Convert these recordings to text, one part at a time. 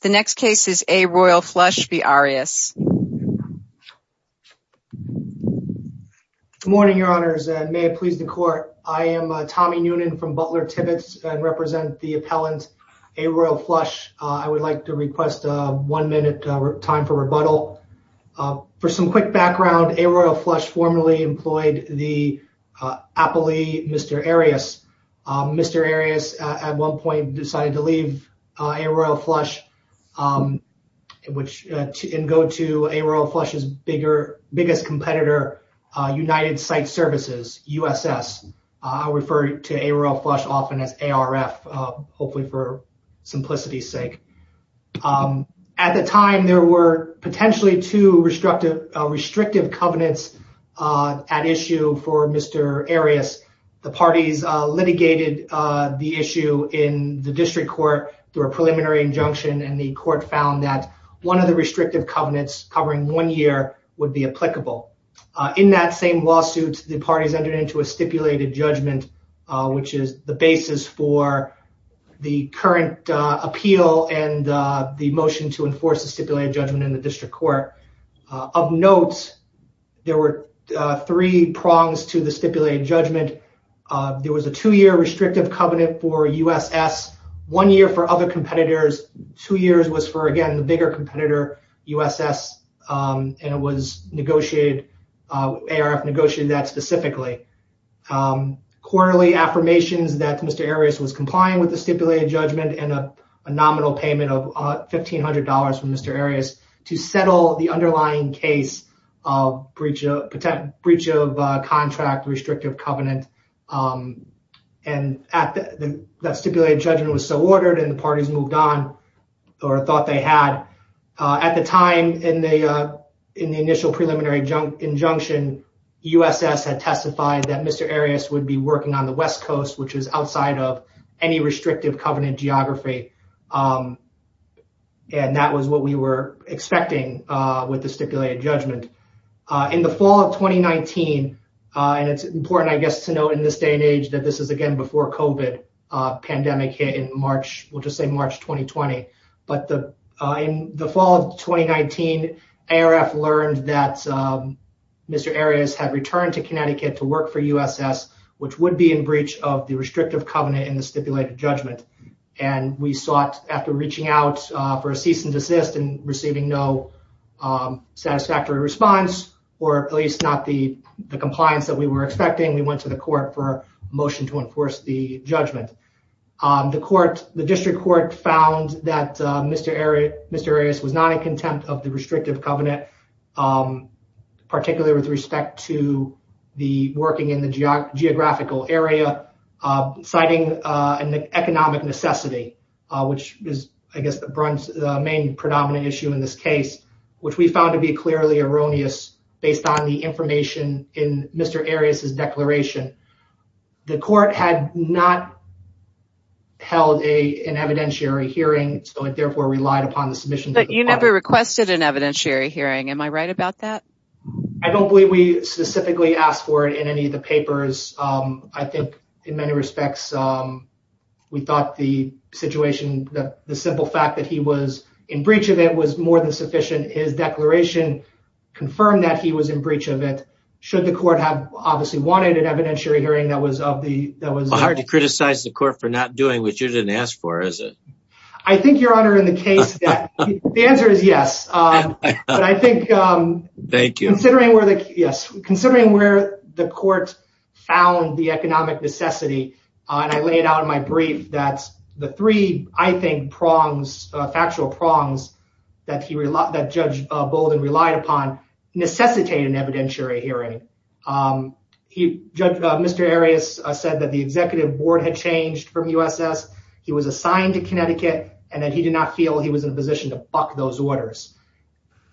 The next case is A. Royal Flush v. Arias. Good morning, Your Honors, and may it please the Court. I am Tommy Noonan from Butler-Tibbetts and represent the appellant A. Royal Flush. I would like to request a one-minute time for rebuttal. For some quick background, A. Royal Flush formerly employed the appellee Mr. Arias. Mr. Arias at one point decided to leave A. Royal Flush and go to A. Royal Flush's biggest competitor, United Site Services, USS. I refer to A. Royal Flush often as ARF, hopefully for simplicity's sake. At the time, there were potentially two restrictive covenants at issue for Mr. Arias. The parties litigated the issue in the district court through a preliminary injunction, and the court found that one of the restrictive covenants covering one year would be applicable. In that same lawsuit, the parties entered into a stipulated judgment, which is the basis for the current appeal and the motion to enforce a stipulated judgment in the district court. Of note, there were three prongs to the stipulated judgment. There was a two-year restrictive covenant for USS, one year for other competitors, two years was for, again, the bigger competitor, USS, and it was negotiated, ARF negotiated that specifically. Quarterly affirmations that Mr. Arias was complying with the stipulated judgment and a nominal payment of $1,500 from Mr. Arias to settle the underlying case of breach of contract restrictive covenant. That stipulated judgment was so ordered and the parties moved on or thought they had. At the time, in the initial preliminary injunction, USS had testified that Mr. Arias would be working on the West Coast, which is outside of any restrictive covenant geography, and that was what we were expecting with the stipulated judgment. In the fall of 2019, and it's important, I guess, to note in this day and age that this is, again, before COVID pandemic hit in March, we'll just say March 2020. But in the fall of 2019, ARF learned that Mr. Arias had returned to Connecticut to work for USS, which would be in breach of the restrictive covenant in the stipulated judgment. And we sought, after reaching out for a cease and desist and receiving no satisfactory response, or at least not the compliance that we were expecting, we went to the court for a motion to enforce the judgment. The district court found that Mr. Arias was not in contempt of the restrictive covenant, particularly with respect to the working in the geographical area, citing an economic necessity, which is, I guess, the main predominant issue in this case, which we found to be clearly erroneous based on the information in Mr. Arias' declaration. The court had not held an evidentiary hearing, so it therefore relied upon the submission. But you never requested an evidentiary hearing. Am I right about that? I don't believe we specifically asked for it in any of the papers. I think, in many respects, we thought the situation, the simple fact that he was in breach of it was more than sufficient. His declaration confirmed that he was in breach of it, should the court have obviously wanted an evidentiary hearing that was of the... Hard to criticize the court for not doing what you didn't ask for, is it? I think, Your Honor, in the case that... The answer is yes. Thank you. Considering where the court found the economic necessity, and I laid out in my brief that the three, I think, prongs, factual prongs that Judge Bolden relied upon necessitate an evidentiary hearing. Mr. Arias said that the executive board had changed from USS, he was assigned to Connecticut, and that he did not feel he was in a position to buck those orders.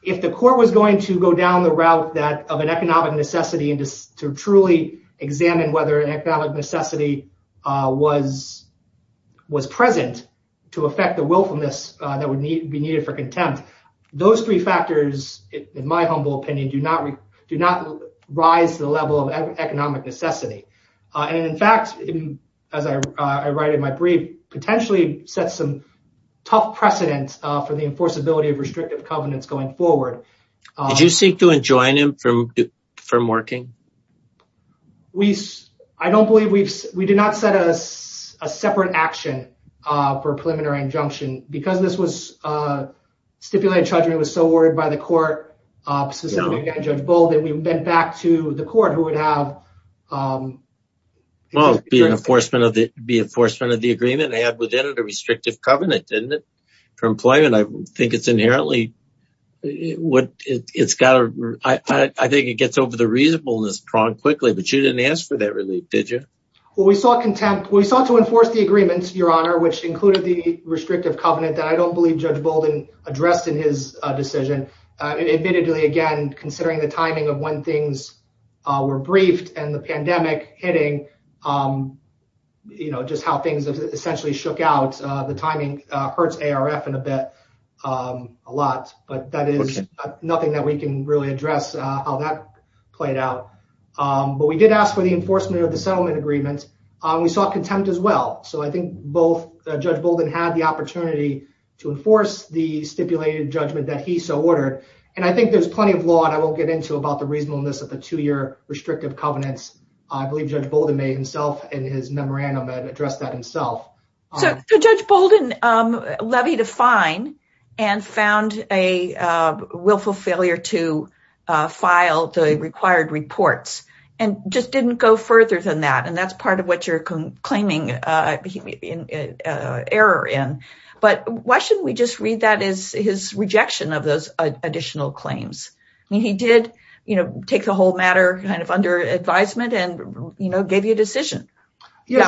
If the court was going to go down the route of an economic necessity and to truly examine whether an economic necessity was present to affect the willfulness that would be needed for contempt, those three factors, in my humble opinion, do not rise to the level of economic necessity. And in fact, as I write in my brief, potentially sets some tough precedent for the enforceability of restrictive covenants going forward. Did you seek to enjoin him from working? I don't believe we've... We did not set a separate action for a preliminary injunction. Because this stipulated judgment was so ordered by the court, specifically by Judge Bolden, we went back to the court who would have... Well, it would be enforcement of the agreement. They had within it a restrictive covenant, didn't it, for employment? I think it's inherently... I think it gets over the reasonableness prong quickly, but you didn't ask for that relief, did you? Well, we sought contempt. We sought to enforce the agreement, Your Honor, which included the restrictive covenant that I don't believe Judge Bolden addressed in his decision. Admittedly, again, considering the timing of when things were briefed and the pandemic hitting, you know, just how things essentially shook out, the timing hurts ARF in a bit, a lot. But that is nothing that we can really address how that played out. But we did ask for the enforcement of the settlement agreement. We sought contempt as well. So I think both Judge Bolden had the opportunity to enforce the stipulated judgment that he so ordered. And I think there's plenty of law that I won't get into about the reasonableness of the two-year restrictive covenants. I believe Judge Bolden made himself in his memorandum and addressed that himself. So Judge Bolden levied a fine and found a willful failure to file the required reports and just didn't go further than that. And that's part of what you're claiming error in. But why shouldn't we just read that as his rejection of those additional claims? I mean, he did, you know, take the whole matter kind of under advisement and, you know, gave you a decision. Yeah.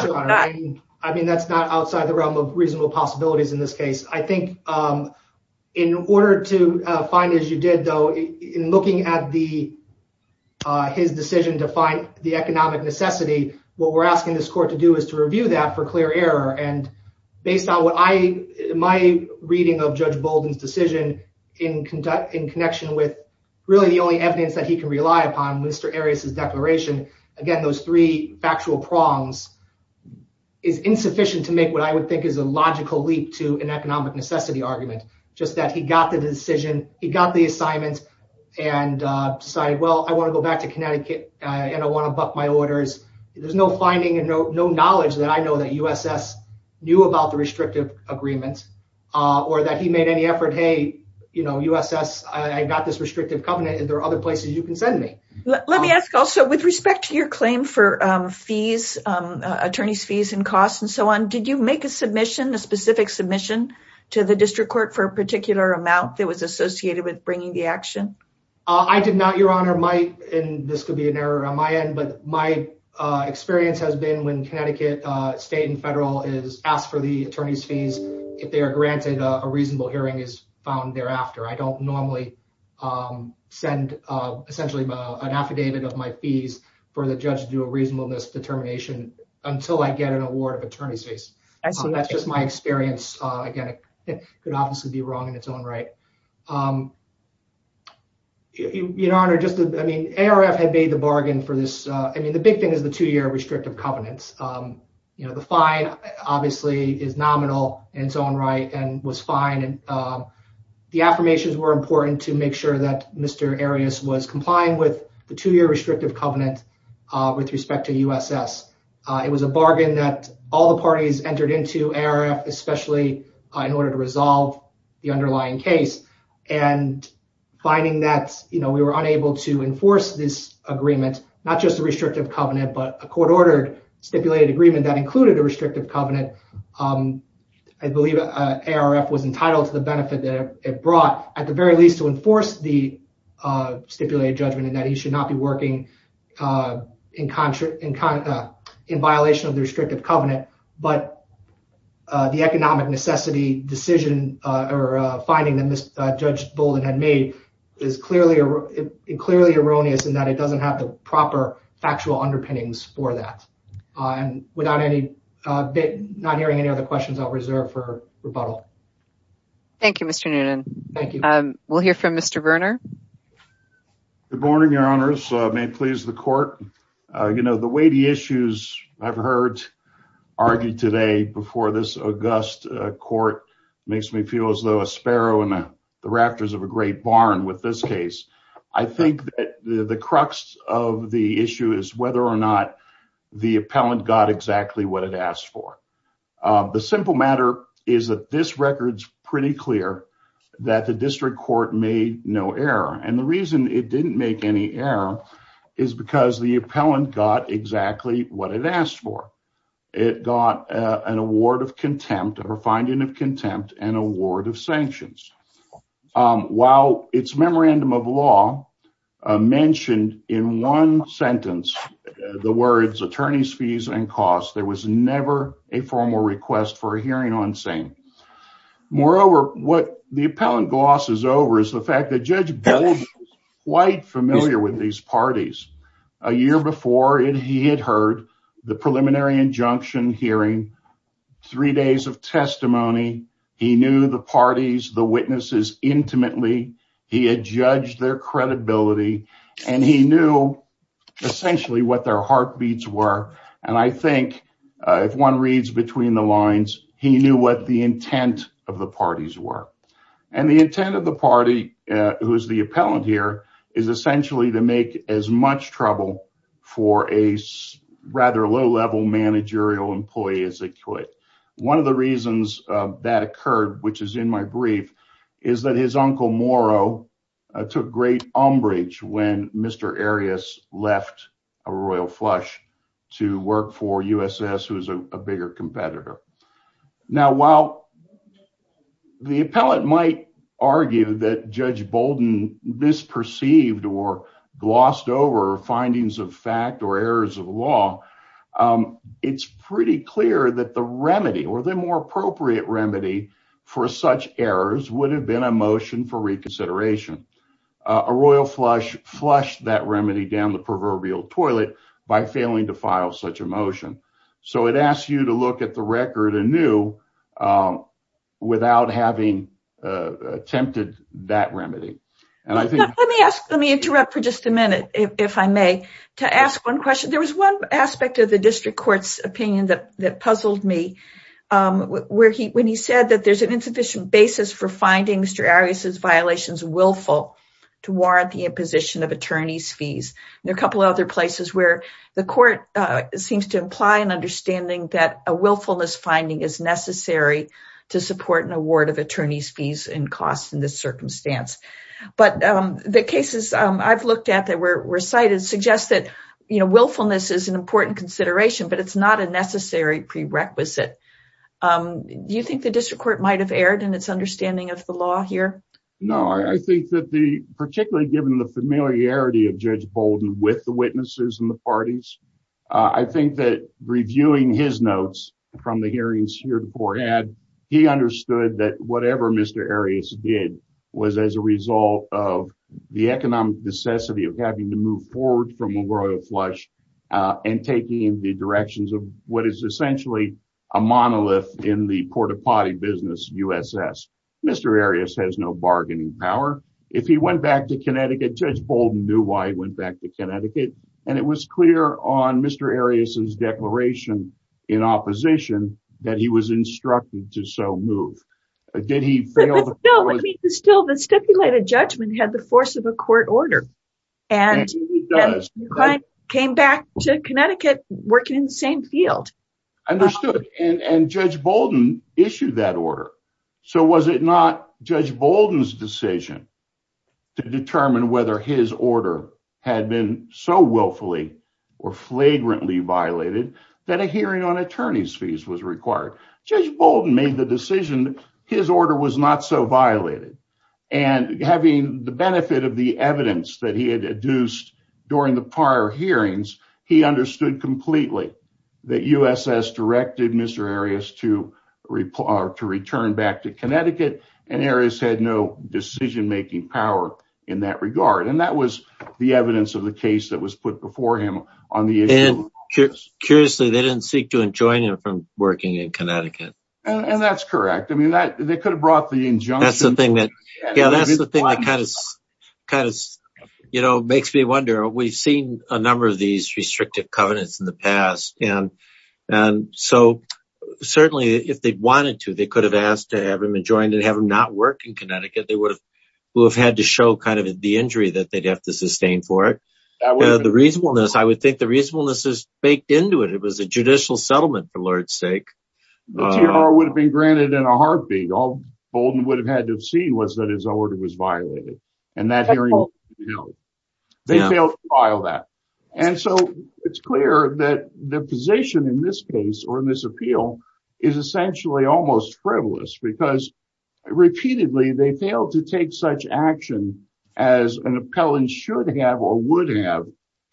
I mean, that's not outside the realm of reasonable possibilities in this case. I think in order to find, as you did, though, in looking at the his decision to find the economic necessity. What we're asking this court to do is to review that for clear error. And based on what I my reading of Judge Bolden's decision in conduct in connection with really the only evidence that he can rely upon. Again, those three factual prongs is insufficient to make what I would think is a logical leap to an economic necessity argument. Just that he got the decision. He got the assignment and decided, well, I want to go back to Connecticut and I want to buck my orders. There's no finding and no knowledge that I know that USS knew about the restrictive agreement or that he made any effort. Hey, you know, USS, I got this restrictive covenant. And there are other places you can send me. Let me ask also, with respect to your claim for fees, attorney's fees and costs and so on. Did you make a submission, a specific submission to the district court for a particular amount that was associated with bringing the action? I did not, Your Honor. And this could be an error on my end. But my experience has been when Connecticut state and federal is asked for the attorney's fees, if they are granted a reasonable hearing is found thereafter. I don't normally send essentially an affidavit of my fees for the judge to do a reasonableness determination until I get an award of attorney's fees. And so that's just my experience. Again, it could obviously be wrong in its own right. Your Honor, just I mean, ARF had made the bargain for this. I mean, the big thing is the two year restrictive covenants. You know, the fine obviously is nominal in its own right and was fine. And the affirmations were important to make sure that Mr. Arias was complying with the two year restrictive covenant with respect to USS. It was a bargain that all the parties entered into ARF, especially in order to resolve the underlying case. And finding that, you know, we were unable to enforce this agreement, not just the restrictive covenant, but a court ordered stipulated agreement that included a restrictive covenant. I believe ARF was entitled to the benefit that it brought, at the very least, to enforce the stipulated judgment and that he should not be working in contract, in violation of the restrictive covenant. But the economic necessity decision or finding that Judge Bolden had made is clearly and clearly erroneous in that it doesn't have the proper factual underpinnings for that. And without any bit not hearing any other questions, I'll reserve for rebuttal. Thank you, Mr. Noonan. Thank you. We'll hear from Mr. Verner. Good morning, Your Honors. May it please the court. You know, the weighty issues I've heard argued today before this august court makes me feel as though a sparrow in the rafters of a great barn with this case. I think that the crux of the issue is whether or not the appellant got exactly what it asked for. The simple matter is that this record's pretty clear that the district court made no error. And the reason it didn't make any error is because the appellant got exactly what it asked for. It got an award of contempt or finding of contempt and award of sanctions. While its memorandum of law mentioned in one sentence the words attorney's fees and costs, there was never a formal request for a hearing on same. Moreover, what the appellant glosses over is the fact that Judge Bolden is quite familiar with these parties. A year before he had heard the preliminary injunction hearing, three days of testimony, he knew the parties, the witnesses intimately. He had judged their credibility and he knew essentially what their heartbeats were. And I think if one reads between the lines, he knew what the intent of the parties were. And the intent of the party, who is the appellant here, is essentially to make as much trouble for a rather low-level managerial employee as they could. One of the reasons that occurred, which is in my brief, is that his uncle Moro took great umbrage when Mr. Arias left Royal Flush to work for USS, who is a bigger competitor. Now, while the appellant might argue that Judge Bolden misperceived or glossed over findings of fact or errors of law, it's pretty clear that the remedy or the more appropriate remedy for such errors would have been a motion for reconsideration. Royal Flush flushed that remedy down the proverbial toilet by failing to file such a motion. So it asks you to look at the record anew without having attempted that remedy. Let me interrupt for just a minute, if I may, to ask one question. There was one aspect of the district court's opinion that puzzled me, when he said that there's an insufficient basis for finding Mr. Arias' violations willful to warrant the imposition of attorney's fees. There are a couple of other places where the court seems to imply an understanding that a willfulness finding is necessary to support an award of attorney's fees and costs in this circumstance. But the cases I've looked at that were cited suggest that willfulness is an important consideration, but it's not a necessary prerequisite. Do you think the district court might have erred in its understanding of the law here? No, I think that the particularly given the familiarity of Judge Bolden with the witnesses and the parties, I think that reviewing his notes from the hearings here before had, he understood that whatever Mr. Arias did was as a result of the economic necessity of having to move forward from a royal flush and taking the directions of what is essentially a monolith in the port-a-potty business USS. Mr. Arias has no bargaining power. If he went back to Connecticut, Judge Bolden knew why he went back to Connecticut. And it was clear on Mr. Arias' declaration in opposition that he was instructed to so move. Did he fail? Still, the stipulated judgment had the force of a court order. And he came back to Connecticut working in the same field. Understood. And Judge Bolden issued that order. So was it not Judge Bolden's decision to determine whether his order had been so willfully or flagrantly violated that a hearing on attorney's fees was required? Judge Bolden made the decision his order was not so violated. And having the benefit of the evidence that he had adduced during the prior hearings, he understood completely that USS directed Mr. Arias to return back to Connecticut. And Arias had no decision-making power in that regard. And that was the evidence of the case that was put before him on the issue. Curiously, they didn't seek to enjoin him from working in Connecticut. And that's correct. I mean, they could have brought the injunction. That's the thing that kind of makes me wonder. We've seen a number of these restrictive covenants in the past. And so certainly if they wanted to, they could have asked to have him enjoined and have him not work in Connecticut. They would have had to show kind of the injury that they'd have to sustain for it. The reasonableness, I would think the reasonableness is baked into it. It was a judicial settlement, for Lord's sake. The T.R.O. would have been granted in a heartbeat. All Bolden would have had to have seen was that his order was violated. And that hearing failed. They failed to file that. And so it's clear that the position in this case or in this appeal is essentially almost frivolous. Because repeatedly they failed to take such action as an appellant should have or would have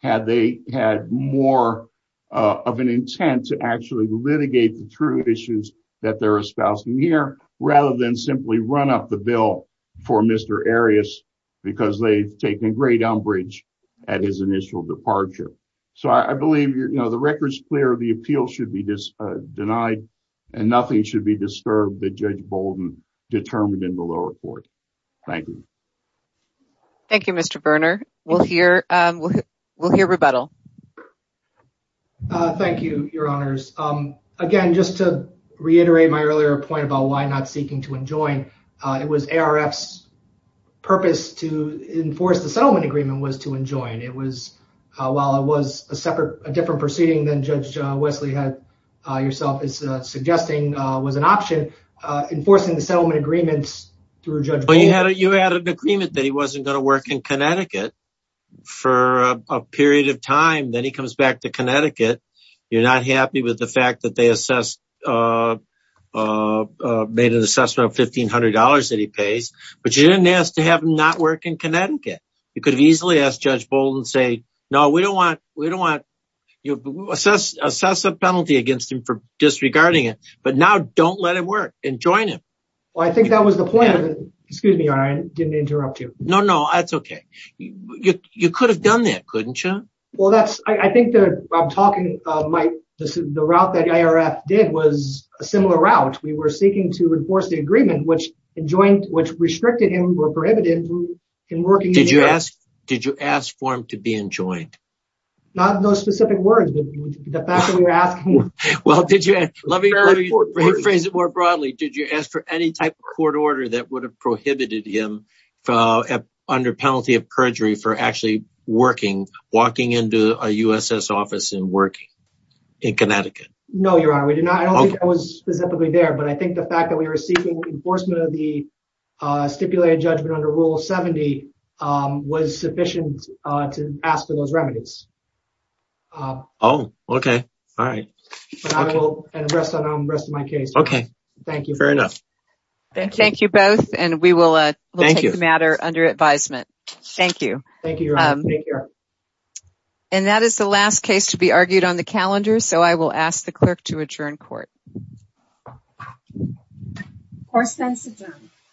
had they had more of an intent to actually litigate the T.R.O. issues that they're espousing here rather than simply run up the bill for Mr. Arias because they've taken great umbrage at his initial departure. So I believe the record's clear. The appeal should be denied and nothing should be disturbed that Judge Bolden determined in the lower court. Thank you. Thank you, Mr. Berner. We'll hear rebuttal. Thank you, Your Honors. Again, just to reiterate my earlier point about why not seeking to enjoin, it was A.R.F.'s purpose to enforce the settlement agreement was to enjoin. It was, while it was a separate, a different proceeding than Judge Wesley had yourself is suggesting, was an option enforcing the settlement agreements through Judge Bolden. You had an agreement that he wasn't going to work in Connecticut for a period of time. Then he comes back to Connecticut. You're not happy with the fact that they assessed, made an assessment of $1,500 that he pays. But you didn't ask to have him not work in Connecticut. You could have easily asked Judge Bolden and say, no, we don't want, we don't want, assess a penalty against him for disregarding it. But now don't let it work and join him. Well, I think that was the point. Excuse me, Your Honor, I didn't interrupt you. No, no, that's okay. You could have done that, couldn't you? Well, that's, I think that I'm talking, the route that A.R.F. did was a similar route. We were seeking to enforce the agreement, which restricted him or prohibited him from working. Did you ask for him to be enjoined? Not in those specific words, but the fact that we were asking. Well, let me rephrase it more broadly. Did you ask for any type of court order that would have prohibited him under penalty of perjury for actually working, walking into a USS office and working in Connecticut? No, Your Honor, we did not. I don't think that was specifically there. But I think the fact that we were seeking enforcement of the stipulated judgment under Rule 70 was sufficient to ask for those remedies. Oh, okay. All right. And I will address that in the rest of my case. Okay. Fair enough. Thank you both. And we will take the matter under advisement. Thank you. Thank you, Your Honor. Take care. And that is the last case to be argued on the calendar, so I will ask the clerk to adjourn court. Court stands adjourned.